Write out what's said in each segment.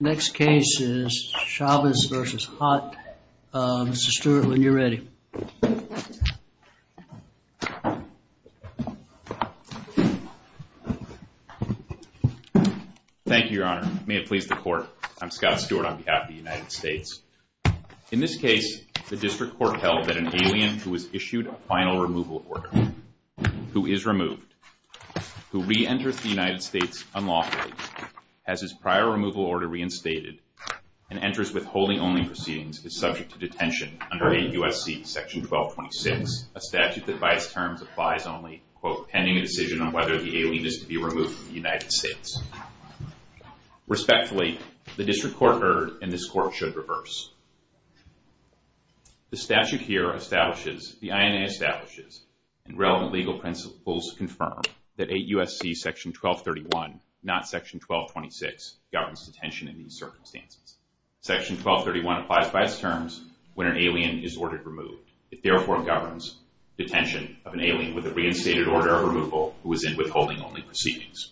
Next case is Chavez v. Hott. Mr. Stewart, when you're ready. Thank you, Your Honor. May it please the court. I'm Scott Stewart on behalf of the United States. In this case, the district court held that an alien who was issued a final removal order, who is removed, who re-enters the United States unlawfully, has his prior removal order reinstated, and enters withholding only proceedings, is subject to detention under 8 U.S.C. Section 1226, a statute that by its terms applies only, quote, pending a decision on whether the alien is to be removed from the United States. Respectfully, the district court erred, and this court should reverse. The statute here establishes, the INA establishes, and relevant legal principles confirm that 8 U.S.C. Section 1231, not Section 1226, governs detention in these circumstances. Section 1231 applies by its terms when an alien is ordered removed. It therefore governs detention of an alien with a reinstated order of removal who is in withholding only proceedings.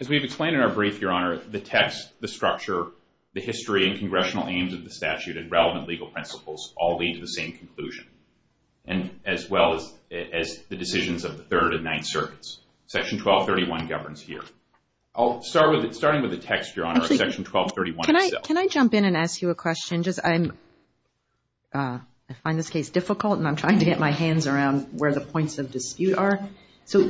As we've explained in our brief, Your Honor, the text, the structure, the history, and congressional aims of the statute and relevant legal principles all lead to the same conclusion, and as well as the decisions of the Third and Ninth Circuits. Section 1231 governs here. I'll start with, starting with the text, Your Honor, of Section 1231 itself. Can I jump in and ask you a question? I find this case difficult, and I'm trying to get my hands around where the points of dispute are. So,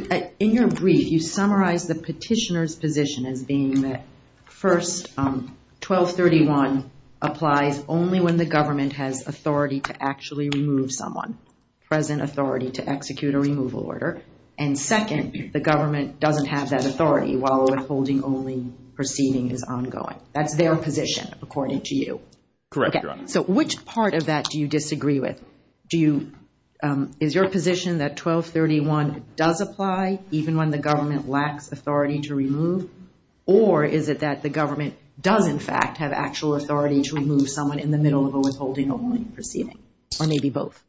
in your brief, you summarize the petitioner's position as being that, first, 1231 applies only when the government has authority to actually remove someone. Present authority to execute a removal order. And second, the government doesn't have that authority while a withholding only proceeding is ongoing. That's their position, according to you. Correct, Your Honor. So, which part of that do you disagree with? Do you, is your position that 1231 does apply even when the government lacks authority to remove? Or is it that the government does, in fact, have actual authority to remove someone in the middle of a withholding only proceeding? Or maybe both?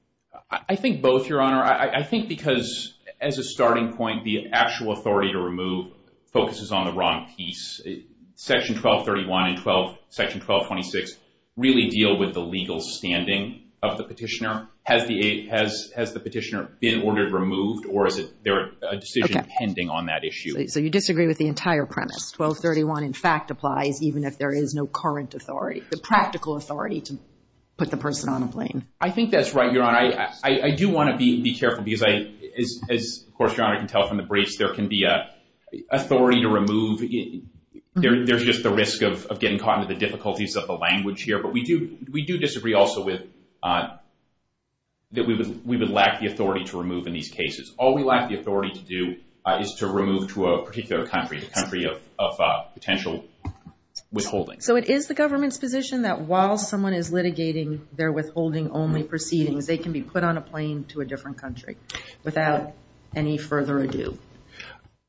I think both, Your Honor. I think because, as a starting point, the actual authority to remove focuses on the wrong piece. Section 1231 and Section 1226 really deal with the legal standing of the petitioner. Has the petitioner been ordered removed, or is there a decision pending on that issue? So, you disagree with the entire premise. 1231, in fact, applies even if there is no current authority, the practical authority to put the person on a plane. I think that's right, Your Honor. I do want to be careful because, as, of course, Your Honor can tell from the briefs, there can be authority to remove. There's just the risk of getting caught in the difficulties of the language here. But we do disagree also with that we would lack the authority to remove in these cases. All we lack the authority to do is to remove to a particular country, a country of potential withholding. So it is the government's position that while someone is litigating their withholding only proceedings, they can be put on a plane to a different country without any further ado?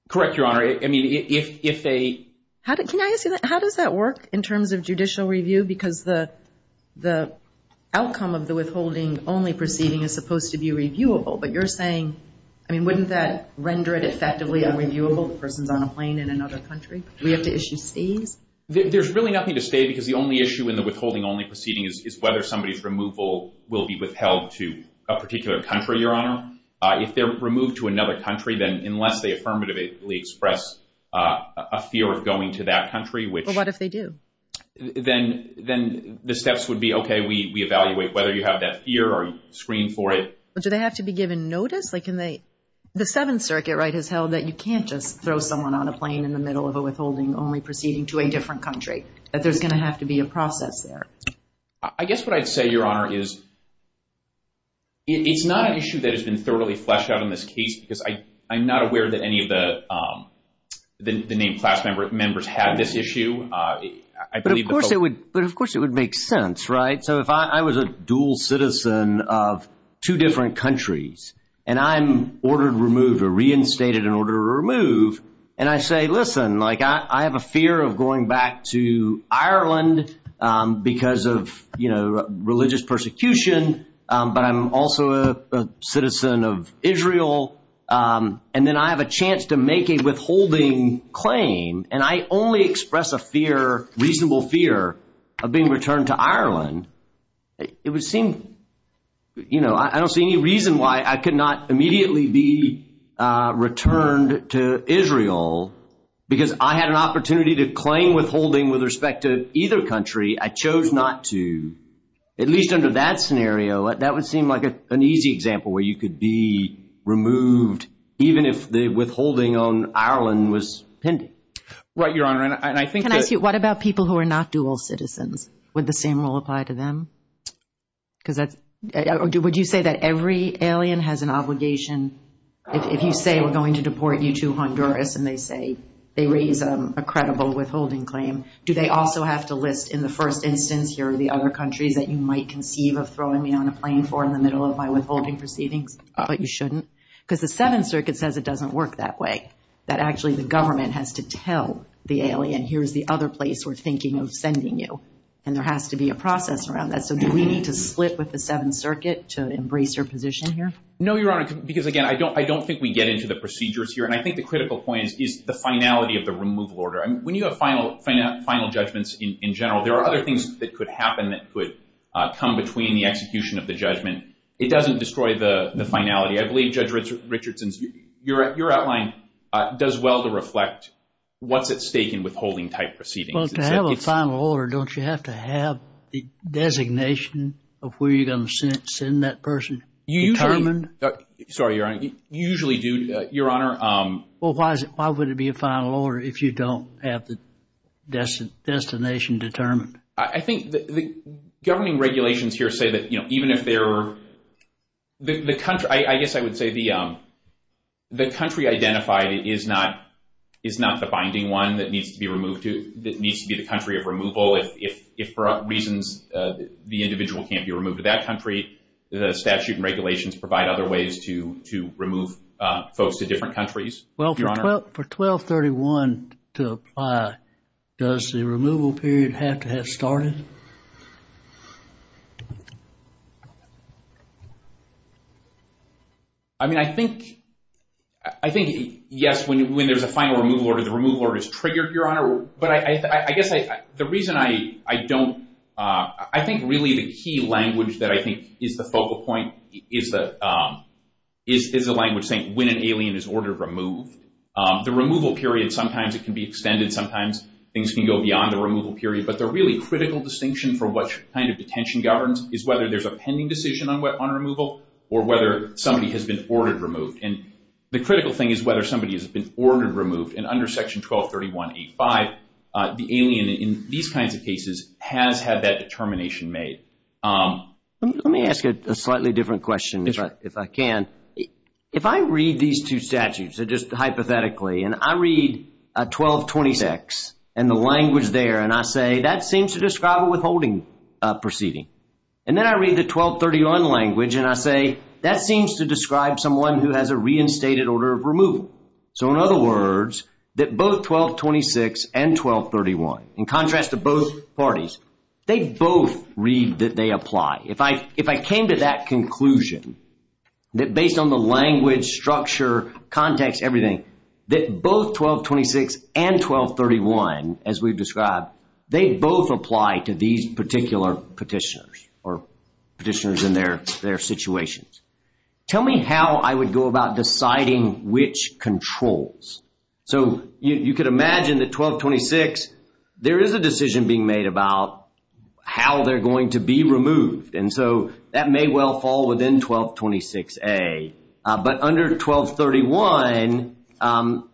Correct, Your Honor. I mean, if they… Can I ask you that? How does that work in terms of judicial review? Because the outcome of the withholding only proceeding is supposed to be reviewable. But you're saying, I mean, wouldn't that render it effectively unreviewable, the person's on a plane in another country? Do we have to issue stays? There's really nothing to stay because the only issue in the withholding only proceeding is whether somebody's removal will be withheld to a particular country, Your Honor. If they're removed to another country, then unless they affirmatively express a fear of going to that country, which… Well, what if they do? Then the steps would be, okay, we evaluate whether you have that fear or screen for it. Do they have to be given notice? The Seventh Circuit has held that you can't just throw someone on a plane in the middle of a withholding only proceeding to a different country, that there's going to have to be a process there. I guess what I'd say, Your Honor, is it's not an issue that has been thoroughly fleshed out in this case because I'm not aware that any of the named class members had this issue. But of course it would make sense, right? So if I was a dual citizen of two different countries and I'm ordered removed or reinstated in order to remove, and I say, listen, I have a fear of going back to Ireland because of religious persecution, but I'm also a citizen of Israel. And then I have a chance to make a withholding claim and I only express a fear, reasonable fear, of being returned to Ireland, it would seem, you know, I don't see any reason why I could not immediately be returned to Israel because I had an opportunity to claim withholding with respect to either country. I chose not to. At least under that scenario, that would seem like an easy example where you could be removed even if the withholding on Ireland was pending. Can I ask you, what about people who are not dual citizens? Would the same rule apply to them? Would you say that every alien has an obligation, if you say we're going to deport you to Honduras and they say, they raise a credible withholding claim, do they also have to list in the first instance, here are the other countries that you might conceive of throwing me on a plane for in the middle of my withholding proceedings? But you shouldn't, because the Seventh Circuit says it doesn't work that way, that actually the government has to tell the alien, here's the other place we're thinking of sending you. And there has to be a process around that. So do we need to split with the Seventh Circuit to embrace your position here? No, Your Honor, because again, I don't think we get into the procedures here. And I think the critical point is the finality of the removal order. When you have final judgments in general, there are other things that could happen that could come between the execution of the judgment. It doesn't destroy the finality. I believe Judge Richardson, your outline does well to reflect what's at stake in withholding type proceedings. Well, to have a final order, don't you have to have the designation of where you're going to send that person determined? Sorry, Your Honor, you usually do, Your Honor. Well, why would it be a final order if you don't have the destination determined? I think the governing regulations here say that, you know, even if they're, the country, I guess I would say the country identified is not the binding one that needs to be removed to, that needs to be the country of removal. If for reasons the individual can't be removed to that country, the statute and regulations provide other ways to remove folks to different countries. Well, for 1231 to apply, does the removal period have to have started? I mean, I think, I think yes, when there's a final removal order, the removal order is triggered, Your Honor. But I guess the reason I don't, I think really the key language that I think is the focal point is the language saying when an alien is ordered removed. The removal period, sometimes it can be extended, sometimes things can go beyond the removal period. But the really critical distinction for what kind of detention governs is whether there's a pending decision on removal or whether somebody has been ordered removed. And the critical thing is whether somebody has been ordered removed. And under Section 1231.85, the alien in these kinds of cases has had that determination made. Let me ask a slightly different question if I can. If I read these two statutes, just hypothetically, and I read 1226 and the language there, and I say that seems to describe a withholding proceeding. And then I read the 1231 language and I say that seems to describe someone who has a reinstated order of removal. So in other words, that both 1226 and 1231, in contrast to both parties, they both read that they apply. If I came to that conclusion that based on the language, structure, context, everything, that both 1226 and 1231, as we've described, they both apply to these particular petitioners or petitioners in their situations. Tell me how I would go about deciding which controls. So you could imagine that 1226, there is a decision being made about how they're going to be removed. And so that may well fall within 1226A. But under 1231,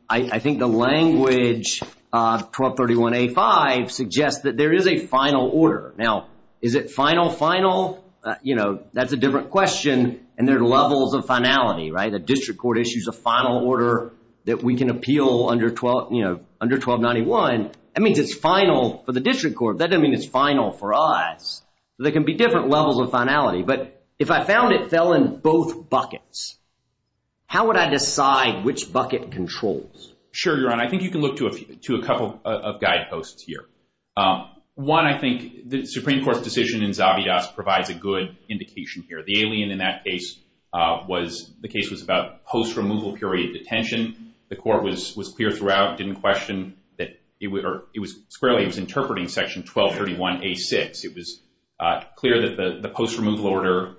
I think the language 1231.85 suggests that there is a final order. Now, is it final, final? You know, that's a different question. And there are levels of finality. The district court issues a final order that we can appeal under 1291. That means it's final for the district court. That doesn't mean it's final for us. There can be different levels of finality. But if I found it fell in both buckets, how would I decide which bucket controls? Sure, Your Honor. I think you can look to a couple of guideposts here. One, I think the Supreme Court's decision in Zabidas provides a good indication here. The alien in that case was the case was about post-removal period detention. The court was clear throughout, didn't question that it was squarely interpreting Section 1231A.6. It was clear that the post-removal order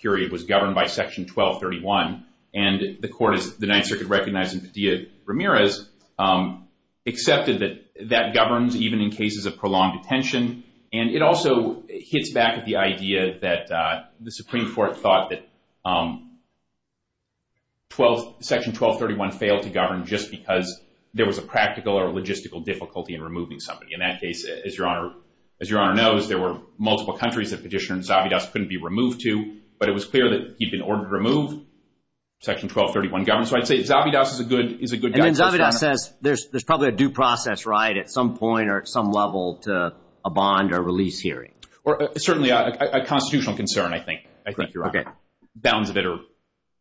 period was governed by Section 1231. And the court, as the Ninth Circuit recognized in Padilla-Ramirez, accepted that that governs even in cases of prolonged detention. And it also hits back at the idea that the Supreme Court thought that Section 1231 failed to govern just because there was a practical or logistical difficulty in removing somebody. In that case, as Your Honor knows, there were multiple countries that Petitioner and Zabidas couldn't be removed to. But it was clear that he'd been ordered to remove Section 1231 governed. So I'd say Zabidas is a good guidepost. Zabidas says there's probably a due process right at some point or at some level to a bond or release hearing. Certainly a constitutional concern, I think, Your Honor. Bounds of it are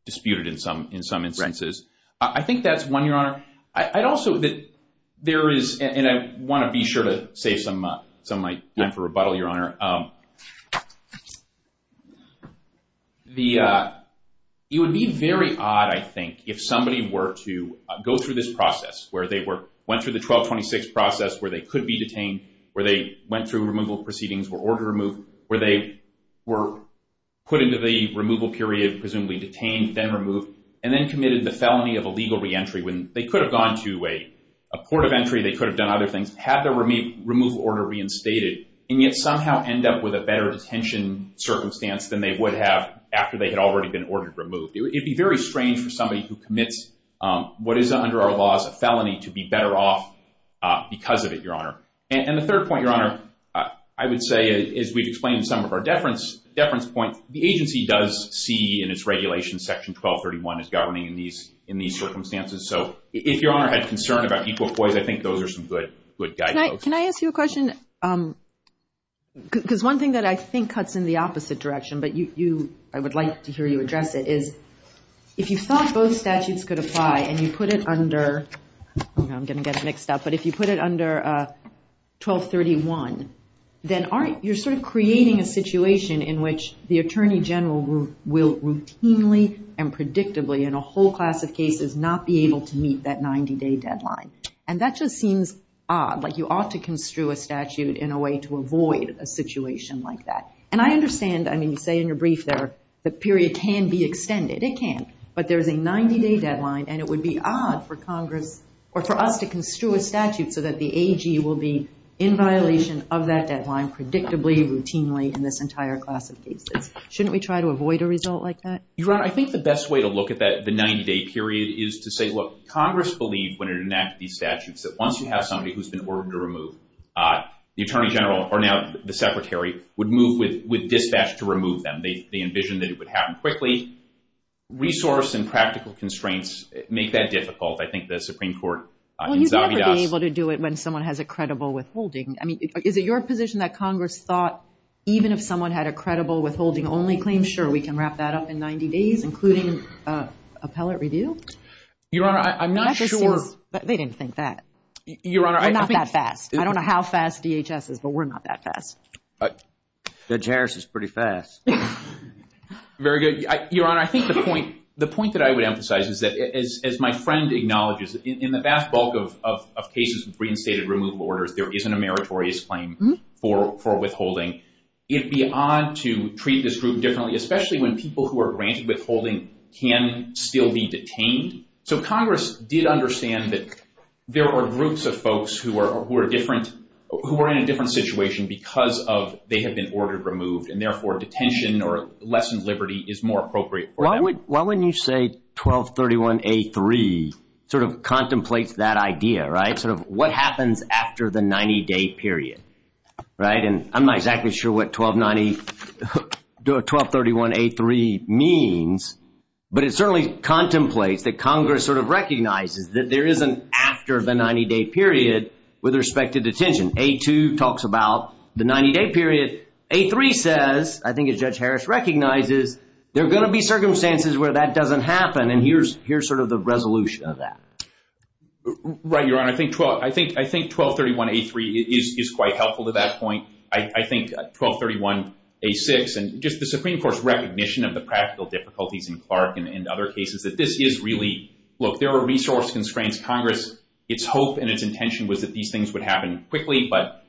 disputed in some instances. I think that's one, Your Honor. I'd also that there is, and I want to be sure to save some of my time for rebuttal, Your Honor. It would be very odd, I think, if somebody were to go through this process where they went through the 1226 process where they could be detained, where they went through removal proceedings, were order removed, where they were put into the removal period, presumably detained, then removed, and then committed the felony of illegal reentry when they could have gone to a port of entry, they could have done other things, had the removal order reinstated, and yet somehow end up with a better detention circumstance than they would have after they had already been ordered removed. It would be very strange for somebody who commits what is under our laws a felony to be better off because of it, Your Honor. And the third point, Your Honor, I would say, as we've explained in some of our deference points, the agency does see in its regulation Section 1231 as governing in these circumstances. So if Your Honor had concern about equal poise, I think those are some good guideposts. Can I ask you a question? Because one thing that I think cuts in the opposite direction, but I would like to hear you address it, is if you thought both statutes could apply and you put it under, I'm going to get it mixed up, but if you put it under 1231, then you're sort of creating a situation in which the Attorney General will routinely and predictably in a whole class of cases not be able to meet that 90-day deadline. And that just seems odd, like you ought to construe a statute in a way to avoid a situation like that. And I understand, I mean, you say in your brief there the period can be extended. It can, but there's a 90-day deadline and it would be odd for Congress or for us to construe a statute so that the AG will be in violation of that deadline predictably, routinely in this entire class of cases. Shouldn't we try to avoid a result like that? Your Honor, I think the best way to look at the 90-day period is to say, look, Congress believed when it enacted these statutes that once you have somebody who's been ordered to remove, the Attorney General, or now the Secretary, would move with dispatch to remove them. They envisioned that it would happen quickly. Resource and practical constraints make that difficult. I think the Supreme Court in Zambia does. Well, you'd never be able to do it when someone has a credible withholding. I mean, is it your position that Congress thought even if someone had a credible withholding only claim, are we sure we can wrap that up in 90 days, including appellate review? Your Honor, I'm not sure. They didn't think that. I'm not that fast. I don't know how fast DHS is, but we're not that fast. Judge Harris is pretty fast. Very good. Your Honor, I think the point that I would emphasize is that as my friend acknowledges, in the vast bulk of cases with reinstated removal orders, there isn't a meritorious claim for withholding. It would be odd to treat this group differently, especially when people who are granted withholding can still be detained. So Congress did understand that there are groups of folks who are in a different situation because they have been ordered removed, and therefore detention or lessened liberty is more appropriate. Why wouldn't you say 1231A3 sort of contemplates that idea, right, sort of what happens after the 90-day period, right? And I'm not exactly sure what 1231A3 means, but it certainly contemplates that Congress sort of recognizes that there is an after the 90-day period with respect to detention. A2 talks about the 90-day period. A3 says, I think as Judge Harris recognizes, there are going to be circumstances where that doesn't happen, and here's sort of the resolution of that. Right, Your Honor. I think 1231A3 is quite helpful to that point. I think 1231A6 and just the Supreme Court's recognition of the practical difficulties in Clark and other cases that this is really, look, there are resource constraints. Congress, its hope and its intention was that these things would happen quickly, but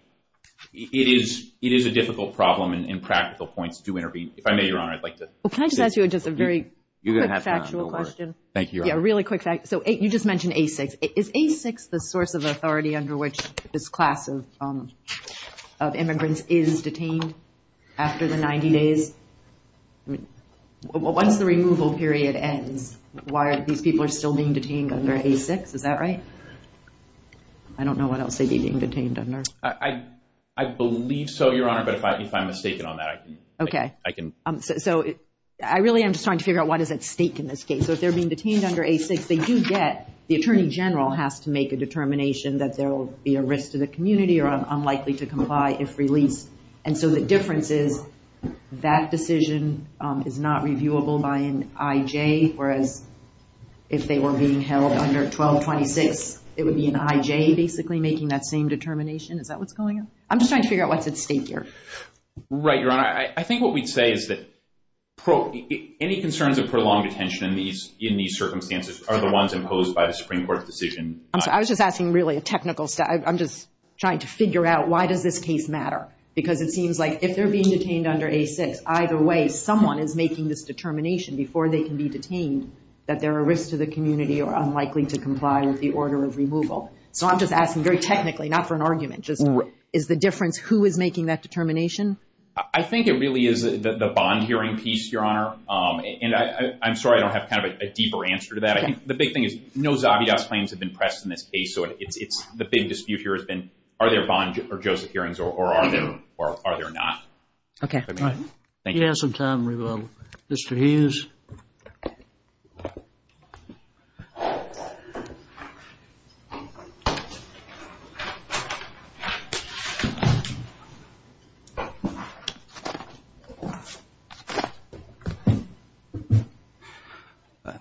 it is a difficult problem, and practical points do intervene. If I may, Your Honor, I'd like to say something. Well, can I just ask you just a very quick factual question? Thank you, Your Honor. Yeah, really quick fact. So you just mentioned A6. Is A6 the source of authority under which this class of immigrants is detained after the 90 days? Once the removal period ends, why are these people still being detained under A6? Is that right? I don't know what else they'd be being detained under. I believe so, Your Honor, but if I'm mistaken on that, I can. Okay. So I really am just trying to figure out what is at stake in this case. So if they're being detained under A6, they do get the Attorney General has to make a determination that there will be a risk to the community or unlikely to comply if released. And so the difference is that decision is not reviewable by an IJ, whereas if they were being held under 1226, it would be an IJ basically making that same determination. Is that what's going on? I'm just trying to figure out what's at stake here. Right, Your Honor. I think what we'd say is that any concerns of prolonged detention in these circumstances are the ones imposed by the Supreme Court's decision. I'm sorry. I was just asking really a technical stuff. I'm just trying to figure out why does this case matter? Because it seems like if they're being detained under A6, either way someone is making this determination before they can be detained that there are risks to the community or unlikely to comply with the order of removal. So I'm just asking very technically, not for an argument, just is the difference who is making that determination? I think it really is the Bond hearing piece, Your Honor. And I'm sorry I don't have kind of a deeper answer to that. I think the big thing is no Zobby Doss claims have been pressed in this case. So it's the big dispute here has been are there Bond or Joseph hearings or are there not? Okay. Thank you. You have some time, Mr. Hughes.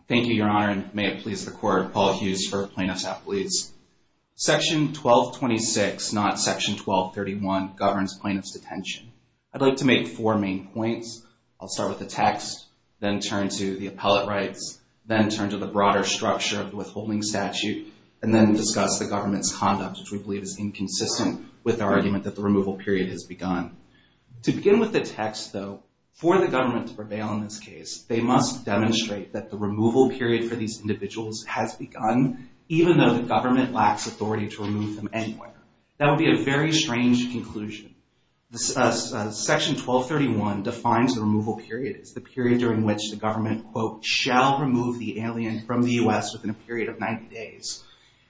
Thank you, Your Honor. And may it please the Court, Paul Hughes for Plaintiff's Appeals. Section 1226, not Section 1231, governs plaintiff's detention. I'd like to make four main points. I'll start with the text, then turn to the appellate rights, then turn to the broader structure of the withholding statute, and then discuss the government's conduct, which we believe is inconsistent with our argument that the removal period has begun. To begin with the text, though, for the government to prevail in this case, they must demonstrate that the removal period for these individuals has begun, even though the government lacks authority to remove them anywhere. That would be a very strange conclusion. Section 1231 defines the removal period as the period during which the government, quote, shall remove the alien from the U.S. within a period of 90 days.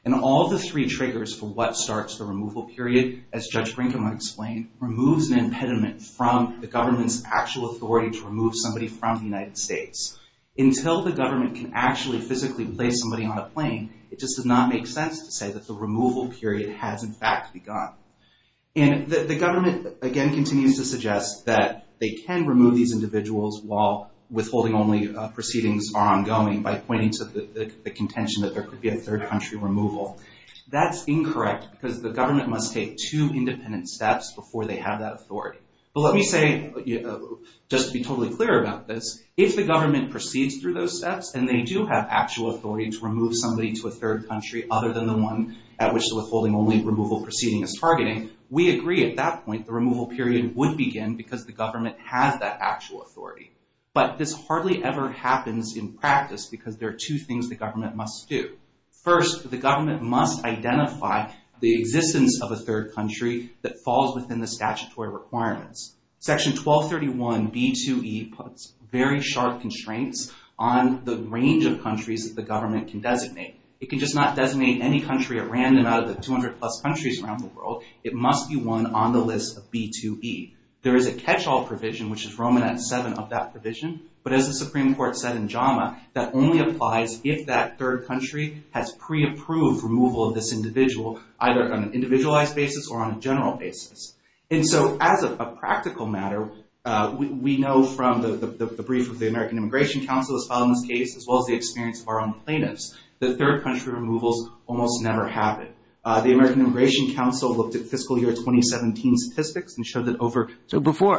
And all of the three triggers for what starts the removal period, as Judge Brinkman explained, removes an impediment from the government's actual authority to remove somebody from the United States. Until the government can actually physically place somebody on a plane, it just does not make sense to say that the removal period has, in fact, begun. And the government, again, continues to suggest that they can remove these individuals while withholding only proceedings are ongoing by pointing to the contention that there could be a third country removal. That's incorrect because the government must take two independent steps before they have that authority. But let me say, just to be totally clear about this, if the government proceeds through those steps and they do have actual authority to remove somebody to a third country other than the one at which the withholding only removal proceeding is targeting, we agree at that point the removal period would begin because the government has that actual authority. But this hardly ever happens in practice because there are two things the government must do. First, the government must identify the existence of a third country that falls within the statutory requirements. Section 1231B2E puts very sharp constraints on the range of countries that the government can designate. It can just not designate any country at random out of the 200-plus countries around the world. It must be one on the list of B2E. There is a catch-all provision, which is Roman at 7 of that provision. But as the Supreme Court said in JAMA, that only applies if that third country has pre-approved removal of this individual, either on an individualized basis or on a general basis. And so, as a practical matter, we know from the brief of the American Immigration Council that was filed in this case, as well as the experience of our own plaintiffs, that third country removals almost never happen. The American Immigration Council looked at fiscal year 2017 statistics and showed that over...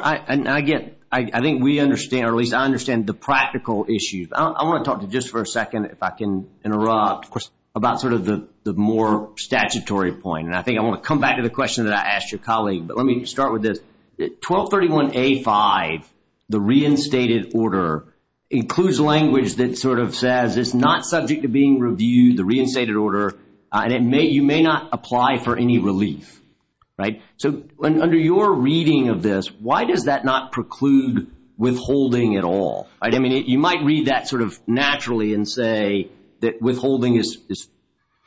I think we understand, or at least I understand the practical issues. I want to talk to you just for a second, if I can interrupt, about sort of the more statutory point. And I think I want to come back to the question that I asked your colleague. But let me start with this. 1231A5, the reinstated order, includes language that sort of says it's not subject to being reviewed, the reinstated order, and you may not apply for any relief. Right? So under your reading of this, why does that not preclude withholding at all? I mean, you might read that sort of naturally and say that withholding is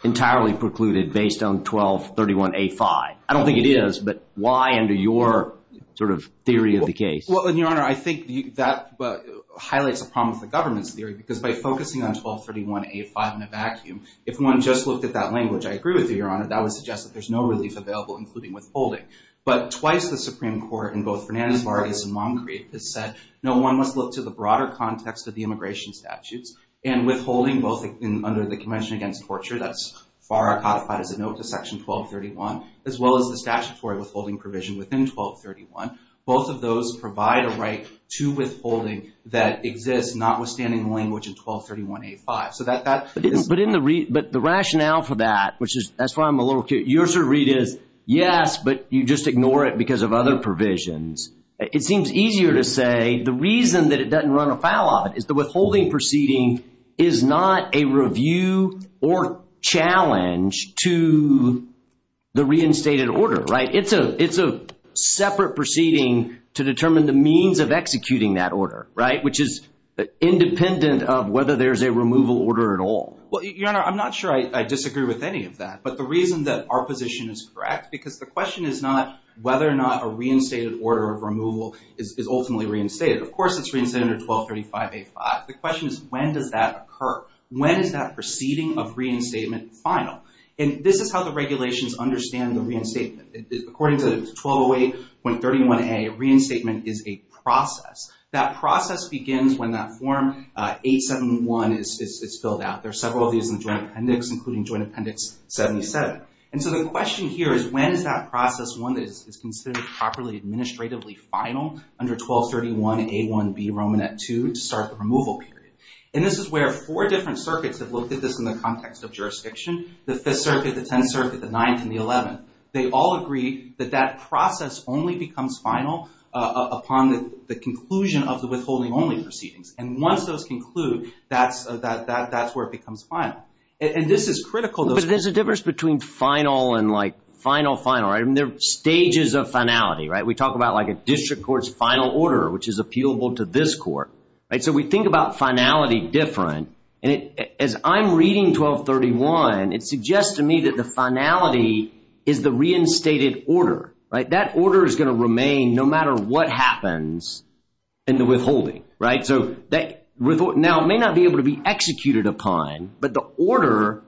entirely precluded based on 1231A5. I don't think it is, but why under your sort of theory of the case? Well, Your Honor, I think that highlights a problem with the government's theory, because by focusing on 1231A5 in a vacuum, if one just looked at that language, I agree with you, Your Honor, that would suggest that there's no relief available, including withholding. But twice the Supreme Court in both Fernandez-Vargas and Moncrief has said, no, one must look to the broader context of the immigration statutes, and withholding both under the Convention Against Torture, that's far codified as a note to Section 1231, as well as the statutory withholding provision within 1231. Both of those provide a right to withholding that exists notwithstanding the language in 1231A5. But the rationale for that, which is, that's why I'm a little curious, your sort of read is, yes, but you just ignore it because of other provisions. It seems easier to say the reason that it doesn't run afoul of it is the withholding proceeding is not a review or challenge to the reinstated order, right? It's a separate proceeding to determine the means of executing that order, right, which is independent of whether there's a removal order at all. Well, Your Honor, I'm not sure I disagree with any of that, but the reason that our position is correct, because the question is not whether or not a reinstated order of removal is ultimately reinstated. Of course, it's reinstated under 1235A5. The question is, when does that occur? When is that proceeding of reinstatement final? And this is how the regulations understand the reinstatement. According to 1208.31A, reinstatement is a process. That process begins when that Form 871 is filled out. There are several of these in the Joint Appendix, including Joint Appendix 77. And so the question here is, when is that process one that is considered properly administratively final under 1231A1B, Romanette 2, to start the removal period? And this is where four different circuits have looked at this in the context of jurisdiction, the Fifth Circuit, the Tenth Circuit, the Ninth, and the Eleventh. They all agree that that process only becomes final upon the conclusion of the withholding-only proceedings. And once those conclude, that's where it becomes final. And this is critical. But there's a difference between final and, like, final, final. I mean, there are stages of finality, right? We talk about, like, a district court's final order, which is appealable to this court. So we think about finality different. And as I'm reading 1231, it suggests to me that the finality is the reinstated order, right? That order is going to remain no matter what happens in the withholding, right? So now it may not be able to be executed upon, but the order,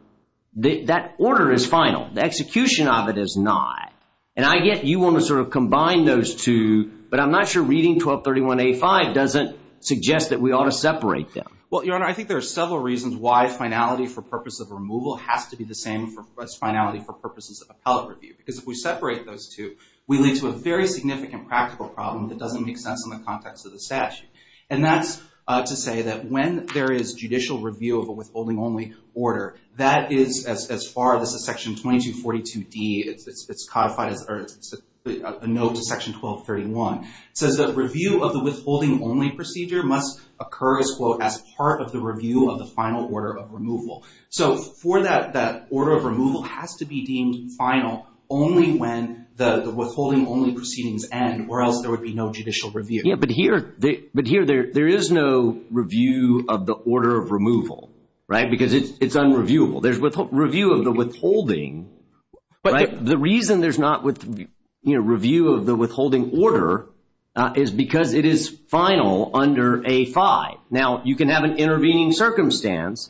that order is final. The execution of it is not. And I get you want to sort of combine those two, but I'm not sure reading 1231A5 doesn't suggest that we ought to separate them. Well, Your Honor, I think there are several reasons why finality for purpose of removal has to be the same as finality for purposes of appellate review. Because if we separate those two, we lead to a very significant practical problem that doesn't make sense in the context of the statute. And that's to say that when there is judicial review of a withholding-only order, that is as far as the section 2242D. It's codified as a note to section 1231. It says that review of the withholding-only procedure must occur as, quote, as part of the review of the final order of removal. So for that, that order of removal has to be deemed final only when the withholding-only proceedings end or else there would be no judicial review. Yeah, but here, there is no review of the order of removal, right? Because it's unreviewable. There's review of the withholding, right? The reason there's not review of the withholding order is because it is final under A5. Now, you can have an intervening circumstance,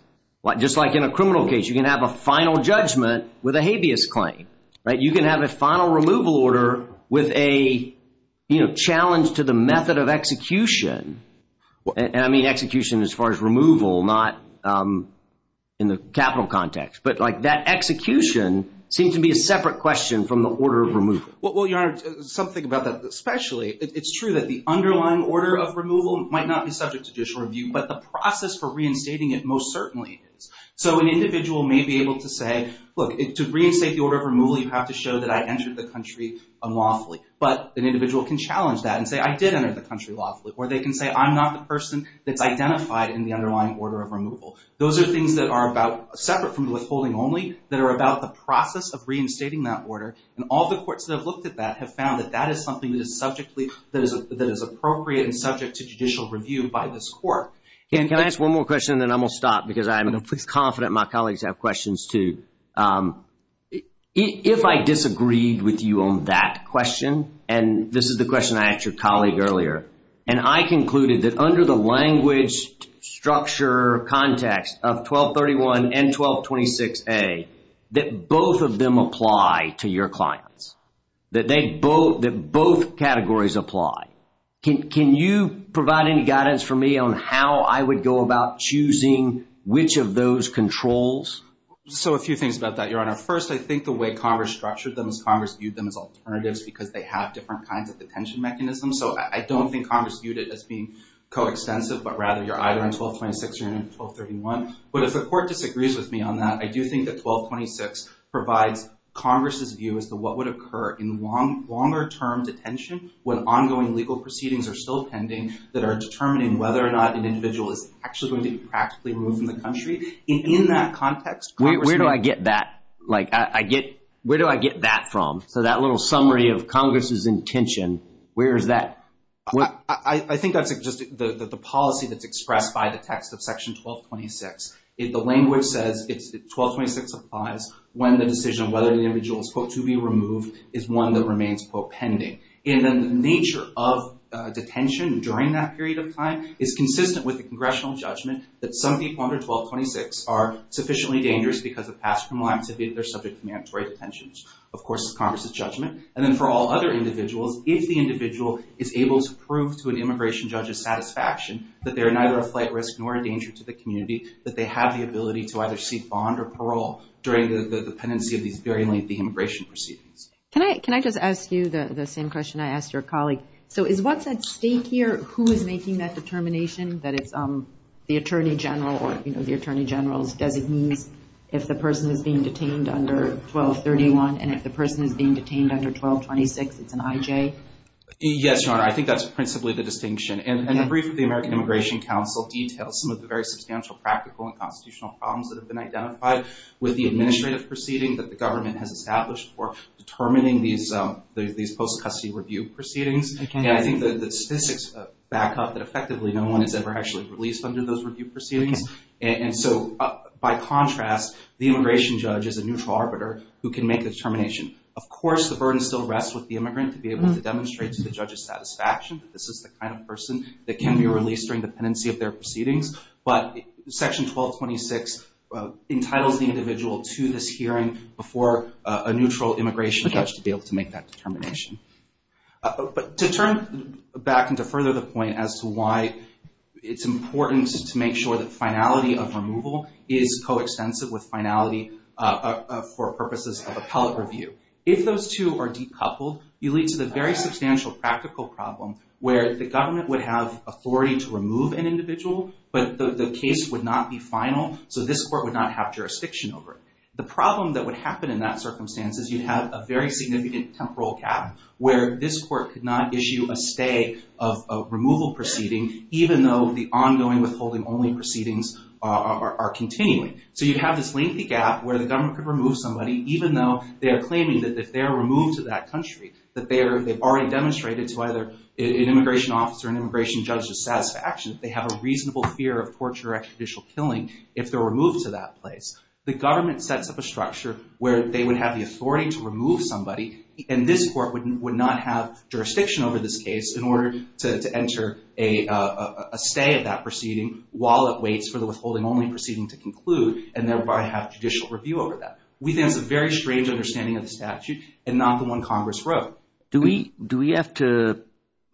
just like in a criminal case. You can have a final judgment with a habeas claim, right? You can have a final removal order with a challenge to the method of execution. And I mean execution as far as removal, not in the capital context. But, like, that execution seems to be a separate question from the order of removal. Well, Your Honor, something about that especially, it's true that the underlying order of removal might not be subject to judicial review, but the process for reinstating it most certainly is. So an individual may be able to say, look, to reinstate the order of removal, you have to show that I entered the country unlawfully. But an individual can challenge that and say, I did enter the country lawfully. Or they can say, I'm not the person that's identified in the underlying order of removal. Those are things that are about, separate from withholding only, that are about the process of reinstating that order. And all the courts that have looked at that have found that that is something that is subjectly, that is appropriate and subject to judicial review by this court. Can I ask one more question and then I'm going to stop because I'm confident my colleagues have questions too. If I disagreed with you on that question, and this is the question I asked your colleague earlier. And I concluded that under the language structure context of 1231 and 1226A, that both of them apply to your clients. That they both, that both categories apply. Can you provide any guidance for me on how I would go about choosing which of those controls? So a few things about that, Your Honor. First, I think the way Congress structured them is Congress viewed them as alternatives because they have different kinds of detention mechanisms. So I don't think Congress viewed it as being coextensive, but rather you're either in 1226 or you're in 1231. But if the court disagrees with me on that, I do think that 1226 provides Congress's view as to what would occur in longer term detention. When ongoing legal proceedings are still pending that are determining whether or not an individual is actually going to be practically removed from the country. In that context, Congress may. Where do I get that? Like I get, where do I get that from? So that little summary of Congress's intention, where is that? I think that's just the policy that's expressed by the text of section 1226. The language says 1226 applies when the decision of whether the individual is, quote, to be removed is one that remains, quote, pending. And then the nature of detention during that period of time is consistent with the congressional judgment that some people under 1226 are sufficiently dangerous because of past criminal activity. They're subject to mandatory detentions. Of course, it's Congress's judgment. And then for all other individuals, if the individual is able to prove to an immigration judge's satisfaction that they are neither a flight risk nor a danger to the community, that they have the ability to either seek bond or parole during the pendency of these very lengthy immigration proceedings. Can I just ask you the same question I asked your colleague? So is what's at stake here who is making that determination? That it's the attorney general or, you know, the attorney general's designees if the person is being detained under 1231 and if the person is being detained under 1226, it's an IJ? Yes, Your Honor. I think that's principally the distinction. And the brief of the American Immigration Council details some of the very substantial practical and constitutional problems that have been identified with the administrative proceeding that the government has established for determining these post-custody review proceedings. And I think the statistics back up that effectively no one has ever actually released under those review proceedings. And so by contrast, the immigration judge is a neutral arbiter who can make the determination. Of course, the burden still rests with the immigrant to be able to demonstrate to the judge's satisfaction that this is the kind of person that can be released during the pendency of their proceedings. But Section 1226 entitles the individual to this hearing before a neutral immigration judge to be able to make that determination. But to turn back and to further the point as to why it's important to make sure that finality of removal is coextensive with finality for purposes of appellate review. If those two are decoupled, you lead to the very substantial practical problem where the government would have authority to remove an individual, but the case would not be final. So this court would not have jurisdiction over it. The problem that would happen in that circumstance is you'd have a very significant temporal gap where this court could not issue a stay of removal proceeding even though the ongoing withholding only proceedings are continuing. So you'd have this lengthy gap where the government could remove somebody even though they are claiming that if they are removed to that country, that they've already demonstrated to either an immigration officer or an immigration judge's satisfaction that they have a reasonable fear of torture or extraditial killing if they're removed to that place. The government sets up a structure where they would have the authority to remove somebody, and this court would not have jurisdiction over this case in order to enter a stay of that proceeding while it waits for the withholding only proceeding to conclude and thereby have judicial review over that. We think it's a very strange understanding of the statute and not the one Congress wrote. Do we have to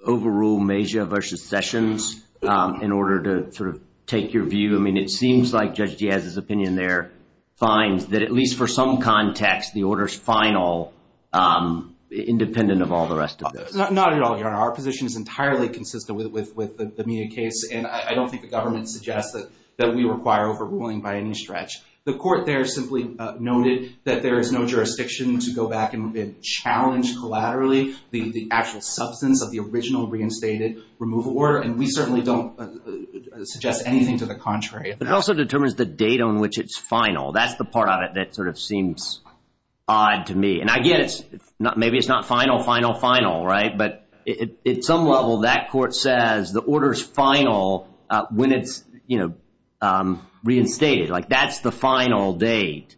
overrule Mejia versus Sessions in order to sort of take your view? I mean, it seems like Judge Diaz's opinion there finds that at least for some context, the order's final independent of all the rest of this. Not at all, Your Honor. Our position is entirely consistent with the Mejia case, and I don't think the government suggests that we require overruling by any stretch. The court there simply noted that there is no jurisdiction to go back and challenge collaterally the actual substance of the original reinstated removal order, and we certainly don't suggest anything to the contrary. But it also determines the date on which it's final. That's the part of it that sort of seems odd to me. And again, maybe it's not final, final, final, right? But at some level, that court says the order's final when it's reinstated. Like, that's the final date,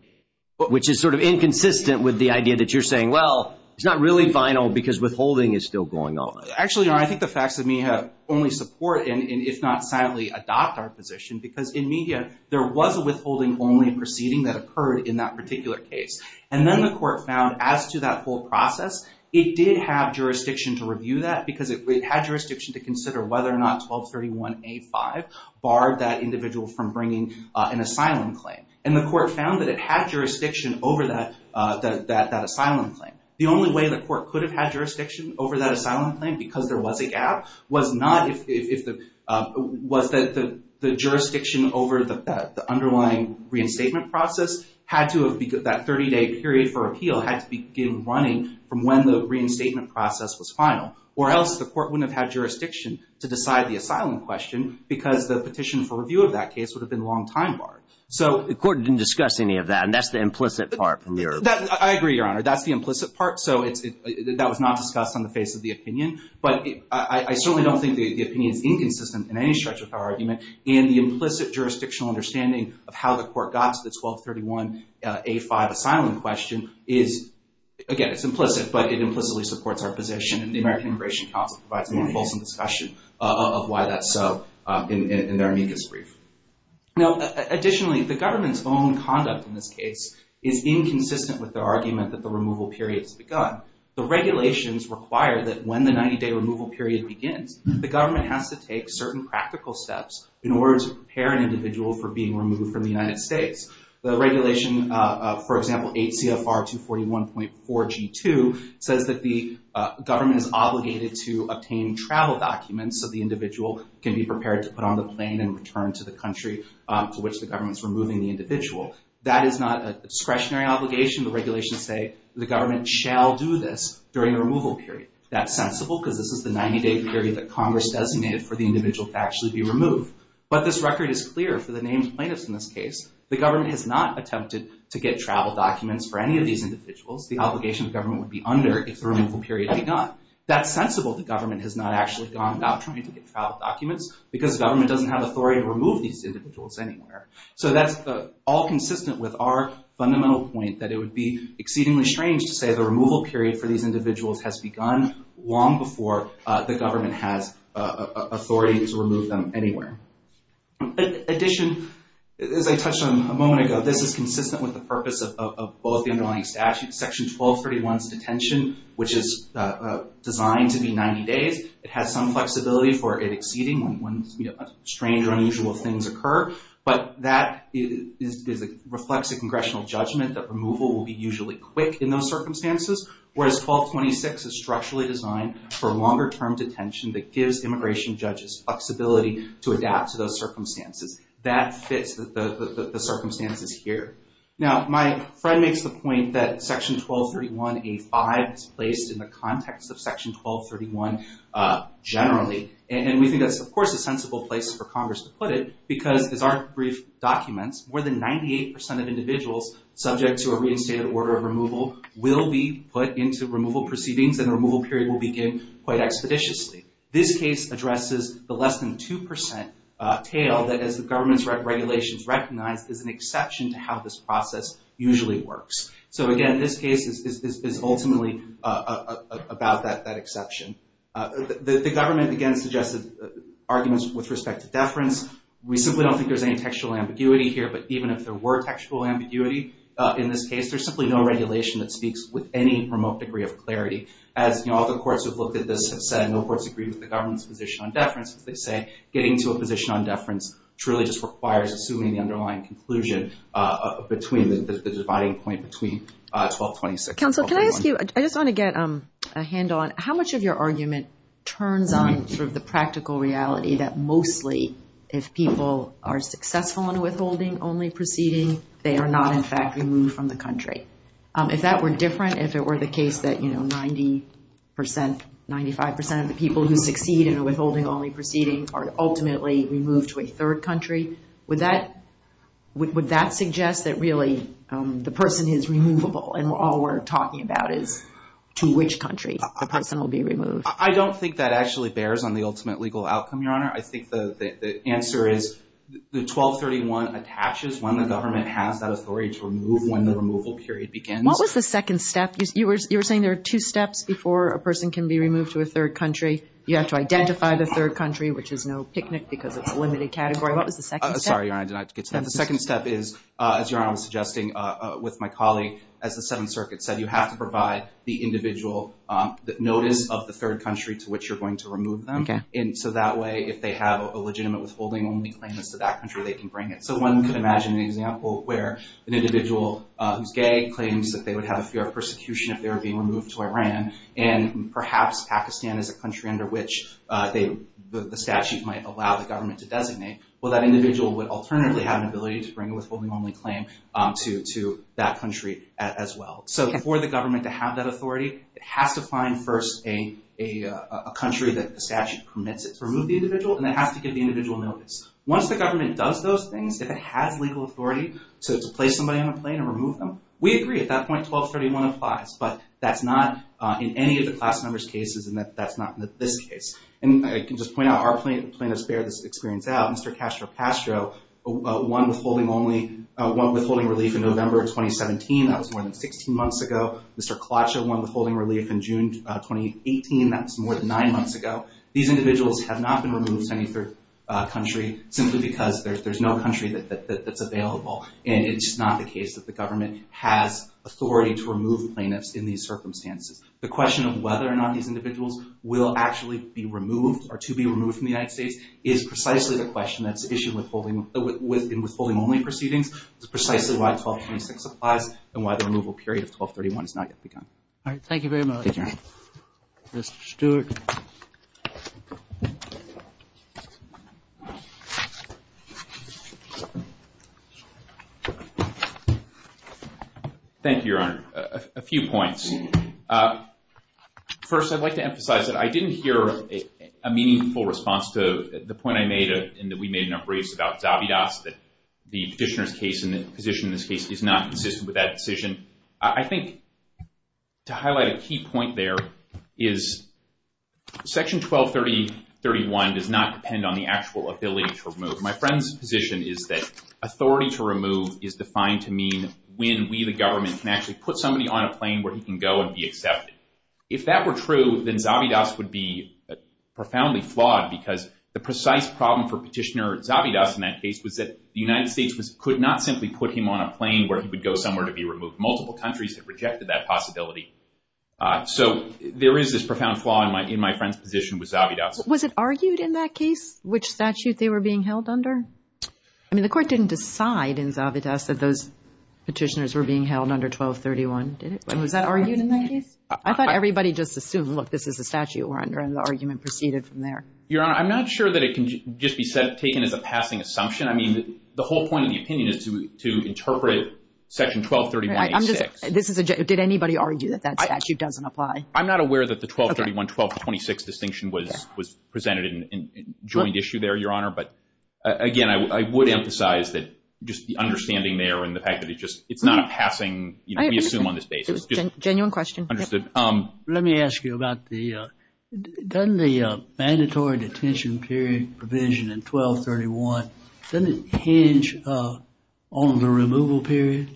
which is sort of inconsistent with the idea that you're saying, well, it's not really final because withholding is still going on. Actually, Your Honor, I think the facts of Mejia only support and if not sadly adopt our position because in Mejia, there was a withholding only proceeding that occurred in that particular case. And then the court found as to that whole process, it did have jurisdiction to review that because it had jurisdiction to consider whether or not 1231A5 barred that individual from bringing an asylum claim. And the court found that it had jurisdiction over that asylum claim. The only way the court could have had jurisdiction over that asylum claim because there was a gap was not if the – was that the jurisdiction over the underlying reinstatement process had to have – that 30-day period for appeal had to begin running from when the reinstatement process was final. Or else the court wouldn't have had jurisdiction to decide the asylum question because the petition for review of that case would have been long time barred. So the court didn't discuss any of that, and that's the implicit part from your – I agree, Your Honor. That's the implicit part. So it's – that was not discussed on the face of the opinion. But I certainly don't think the opinion is inconsistent in any stretch of our argument. And the implicit jurisdictional understanding of how the court got to the 1231A5 asylum question is – again, it's implicit, but it implicitly supports our position. And the American Immigration Council provides more fulsome discussion of why that's so in their amicus brief. Now, additionally, the government's own conduct in this case is inconsistent with the argument that the removal period has begun. The regulations require that when the 90-day removal period begins, the government has to take certain practical steps in order to prepare an individual for being removed from the United States. The regulation, for example, 8 CFR 241.4G2 says that the government is obligated to obtain travel documents so the individual can be prepared to put on the plane and return to the country to which the government is removing the individual. That is not a discretionary obligation. The regulations say the government shall do this during the removal period. That's sensible because this is the 90-day period that Congress designated for the individual to actually be removed. But this record is clear for the named plaintiffs in this case. The government has not attempted to get travel documents for any of these individuals. The obligation of government would be under if the removal period had begun. That's sensible. The government has not actually gone about trying to get travel documents because the government doesn't have authority to remove these individuals anywhere. So that's all consistent with our fundamental point that it would be exceedingly strange to say the removal period for these individuals has begun long before the government has authority to remove them anywhere. In addition, as I touched on a moment ago, this is consistent with the purpose of both the underlying statutes. Section 1231 is detention which is designed to be 90 days. It has some flexibility for it exceeding when strange or unusual things occur. But that reflects a congressional judgment that removal will be usually quick in those circumstances. Whereas 1226 is structurally designed for longer term detention that gives immigration judges flexibility to adapt to those circumstances. That fits the circumstances here. Now, my friend makes the point that Section 1231A5 is placed in the context of Section 1231 generally. And we think that's, of course, a sensible place for Congress to put it. Because as our brief documents, more than 98% of individuals subject to a reinstated order of removal will be put into removal proceedings and the removal period will begin quite expeditiously. This case addresses the less than 2% tale that as the government's regulations recognize is an exception to how this process usually works. So again, this case is ultimately about that exception. The government, again, suggested arguments with respect to deference. We simply don't think there's any textual ambiguity here. But even if there were textual ambiguity in this case, there's simply no regulation that speaks with any remote degree of clarity. As all the courts who have looked at this have said, no courts agree with the government's position on deference. They say getting to a position on deference truly just requires assuming the underlying conclusion between the dividing point between 1226 and 1231. I just want to get a handle on how much of your argument turns on sort of the practical reality that mostly if people are successful in a withholding-only proceeding, they are not, in fact, removed from the country. If that were different, if it were the case that 90%, 95% of the people who succeed in a withholding-only proceeding are ultimately removed to a third country, would that suggest that really the person is removable and all we're talking about is to which country the person will be removed? I don't think that actually bears on the ultimate legal outcome, Your Honor. I think the answer is the 1231 attaches when the government has that authority to remove when the removal period begins. What was the second step? You were saying there are two steps before a person can be removed to a third country. You have to identify the third country, which is no picnic because it's a limited category. What was the second step? Sorry, Your Honor, I did not get to that. The second step is, as Your Honor was suggesting with my colleague, as the Seventh Circuit said, you have to provide the individual notice of the third country to which you're going to remove them. So that way, if they have a legitimate withholding-only claim as to that country, they can bring it. So one could imagine an example where an individual who's gay claims that they would have a fear of persecution if they were being removed to Iran, and perhaps Pakistan is a country under which the statute might allow the government to designate. Well, that individual would alternatively have an ability to bring a withholding-only claim to that country as well. So for the government to have that authority, it has to find first a country that the statute permits it to remove the individual, and it has to give the individual notice. Once the government does those things, if it has legal authority to place somebody on a plane and remove them, we agree at that point, 1231 applies. But that's not in any of the class numbers cases, and that's not in this case. And I can just point out, our plaintiffs bear this experience out. Mr. Castro-Castro won withholding relief in November 2017. That was more than 16 months ago. Mr. Kalacha won withholding relief in June 2018. That was more than nine months ago. These individuals have not been removed to any third country simply because there's no country that's available. And it's not the case that the government has authority to remove plaintiffs in these circumstances. The question of whether or not these individuals will actually be removed or to be removed from the United States is precisely the question that's issued with withholding-only proceedings. It's precisely why 1226 applies and why the removal period of 1231 has not yet begun. All right. Thank you very much, Mr. Stewart. Thank you, Your Honor. A few points. First, I'd like to emphasize that I didn't hear a meaningful response to the point I made in that we made in our briefs about Zabidas, that the petitioner's case and the position in this case is not consistent with that decision. I think to highlight a key point there is Section 1230.31 does not depend on the actual ability to remove. My friend's position is that authority to remove is defined to mean when we, the government, can actually put somebody on a plane where he can go and be accepted. If that were true, then Zabidas would be profoundly flawed because the precise problem for Petitioner Zabidas in that case was that the United States could not simply put him on a plane where he would go somewhere to be removed. Multiple countries have rejected that possibility. So there is this profound flaw in my friend's position with Zabidas. Was it argued in that case which statute they were being held under? I mean, the Court didn't decide in Zabidas that those petitioners were being held under 1231, did it? Was that argued in that case? I thought everybody just assumed, look, this is a statute we're under, and the argument proceeded from there. Your Honor, I'm not sure that it can just be taken as a passing assumption. I mean, the whole point of the opinion is to interpret Section 1230.86. Did anybody argue that that statute doesn't apply? I'm not aware that the 1231, 1226 distinction was presented in joint issue there, Your Honor. But, again, I would emphasize that just the understanding there and the fact that it's not a passing, you know, we assume on this basis. Genuine question. Understood. Let me ask you about the – doesn't the mandatory detention period provision in 1231, doesn't it hinge on the removal period?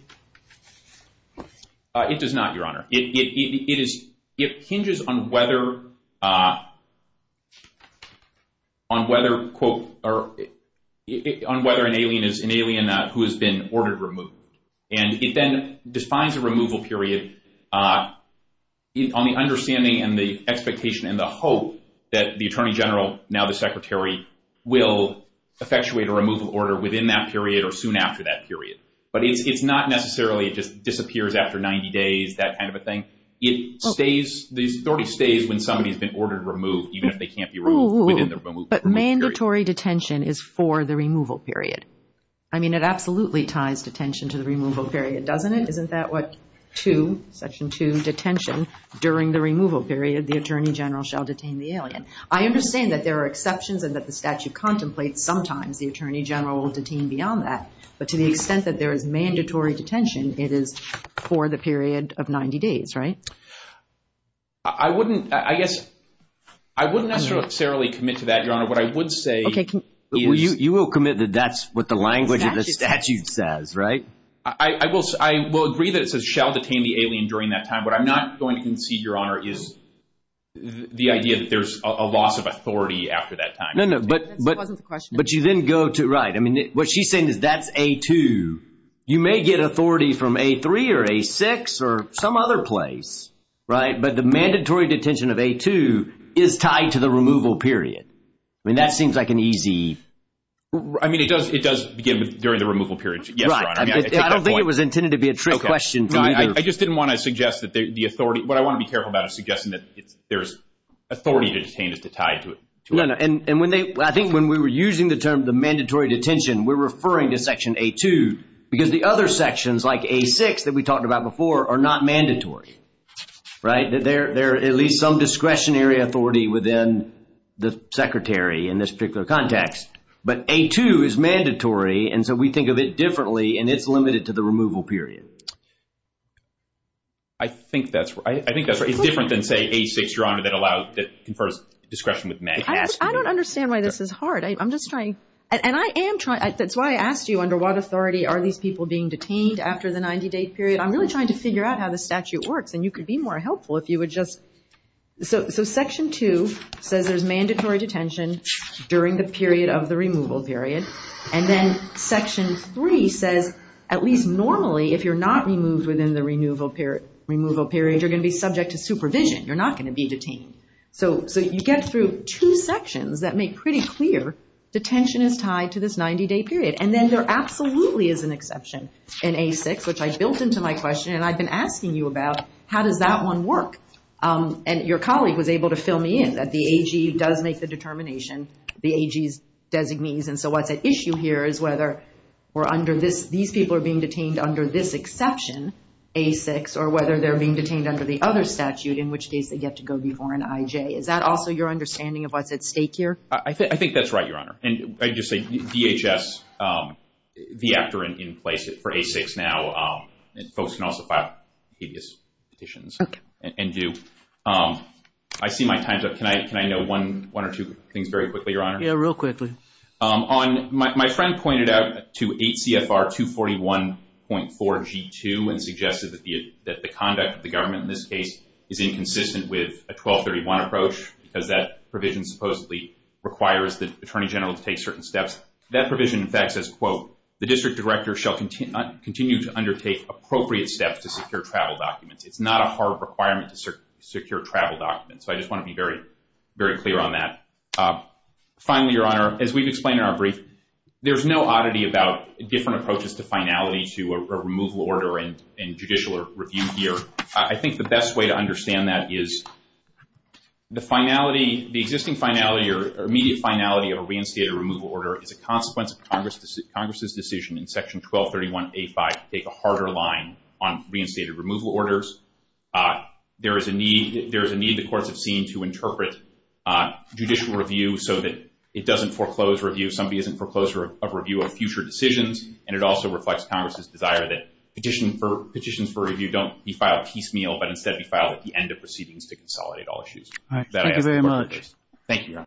It does not, Your Honor. It hinges on whether, quote, on whether an alien is an alien who has been ordered removed. And it then defines a removal period on the understanding and the expectation and the hope that the Attorney General, now the Secretary, will effectuate a removal order within that period or soon after that period. But it's not necessarily it just disappears after 90 days, that kind of a thing. It stays – the authority stays when somebody has been ordered removed, even if they can't be removed within the removal period. But mandatory detention is for the removal period. I mean, it absolutely ties detention to the removal period, doesn't it? Isn't that what – to Section 2, detention during the removal period, the Attorney General shall detain the alien. I understand that there are exceptions and that the statute contemplates sometimes the Attorney General will detain beyond that. But to the extent that there is mandatory detention, it is for the period of 90 days, right? I wouldn't – I guess I wouldn't necessarily commit to that, Your Honor. What I would say is – Okay. You will commit that that's what the language of the statute says, right? I will agree that it says shall detain the alien during that time. What I'm not going to concede, Your Honor, is the idea that there's a loss of authority after that time. No, no. But you then go to – right. I mean, what she's saying is that's A2. You may get authority from A3 or A6 or some other place, right? But the mandatory detention of A2 is tied to the removal period. I mean, that seems like an easy – I mean, it does begin during the removal period. Yes, Your Honor. I mean, I take that point. I don't think it was intended to be a trick question. I just didn't want to suggest that the authority – what I want to be careful about is suggesting that there's authority to detain is to tie to it. No, no. And when they – I think when we were using the term the mandatory detention, we're referring to Section A2 because the other sections like A6 that we talked about before are not mandatory, right? They're at least some discretionary authority within the Secretary in this particular context. But A2 is mandatory, and so we think of it differently, and it's limited to the removal period. I think that's right. I think that's right. It's different than, say, A6, Your Honor, that allows – that confers discretion with MAG. I don't understand why this is hard. I'm just trying – and I am trying – that's why I asked you under what authority are these people being detained after the 90-date period. I'm really trying to figure out how the statute works, and you could be more helpful if you would just – so Section 2 says there's mandatory detention during the period of the removal period, and then Section 3 says at least normally if you're not removed within the removal period, you're going to be subject to supervision. You're not going to be detained. So you get through two sections that make pretty clear detention is tied to this 90-day period, and then there absolutely is an exception in A6, which I built into my question, and I've been asking you about how does that one work, and your colleague was able to fill me in, that the AG does make the determination, the AG's designees, and so what's at issue here is whether we're under this – these people are being detained under this exception, A6, or whether they're being detained under the other statute in which case they get to go before an IJ. Is that also your understanding of what's at stake here? I think that's right, Your Honor, and I'd just say DHS, the actor in place for A6 now, and folks can also file petitions and do. I see my time's up. Can I know one or two things very quickly, Your Honor? Yeah, real quickly. My friend pointed out to 8 CFR 241.4 G2 and suggested that the conduct of the government in this case is inconsistent with a 1231 approach because that provision supposedly requires the attorney general to take certain steps. That provision in fact says, quote, the district director shall continue to undertake appropriate steps to secure travel documents. It's not a hard requirement to secure travel documents, so I just want to be very clear on that. Finally, Your Honor, as we've explained in our brief, there's no oddity about different approaches to finality to a removal order and judicial review here. I think the best way to understand that is the finality, the existing finality or immediate finality of a reinstated removal order is a consequence of Congress's decision in Section 1231A5 to take a harder line on reinstated removal orders. There is a need the courts have seen to interpret judicial review so that it doesn't foreclose review. Somebody doesn't foreclose a review of future decisions, and it also reflects Congress's desire that petitions for review don't be filed piecemeal, but instead be filed at the end of proceedings to consolidate all issues. Thank you, Your Honor.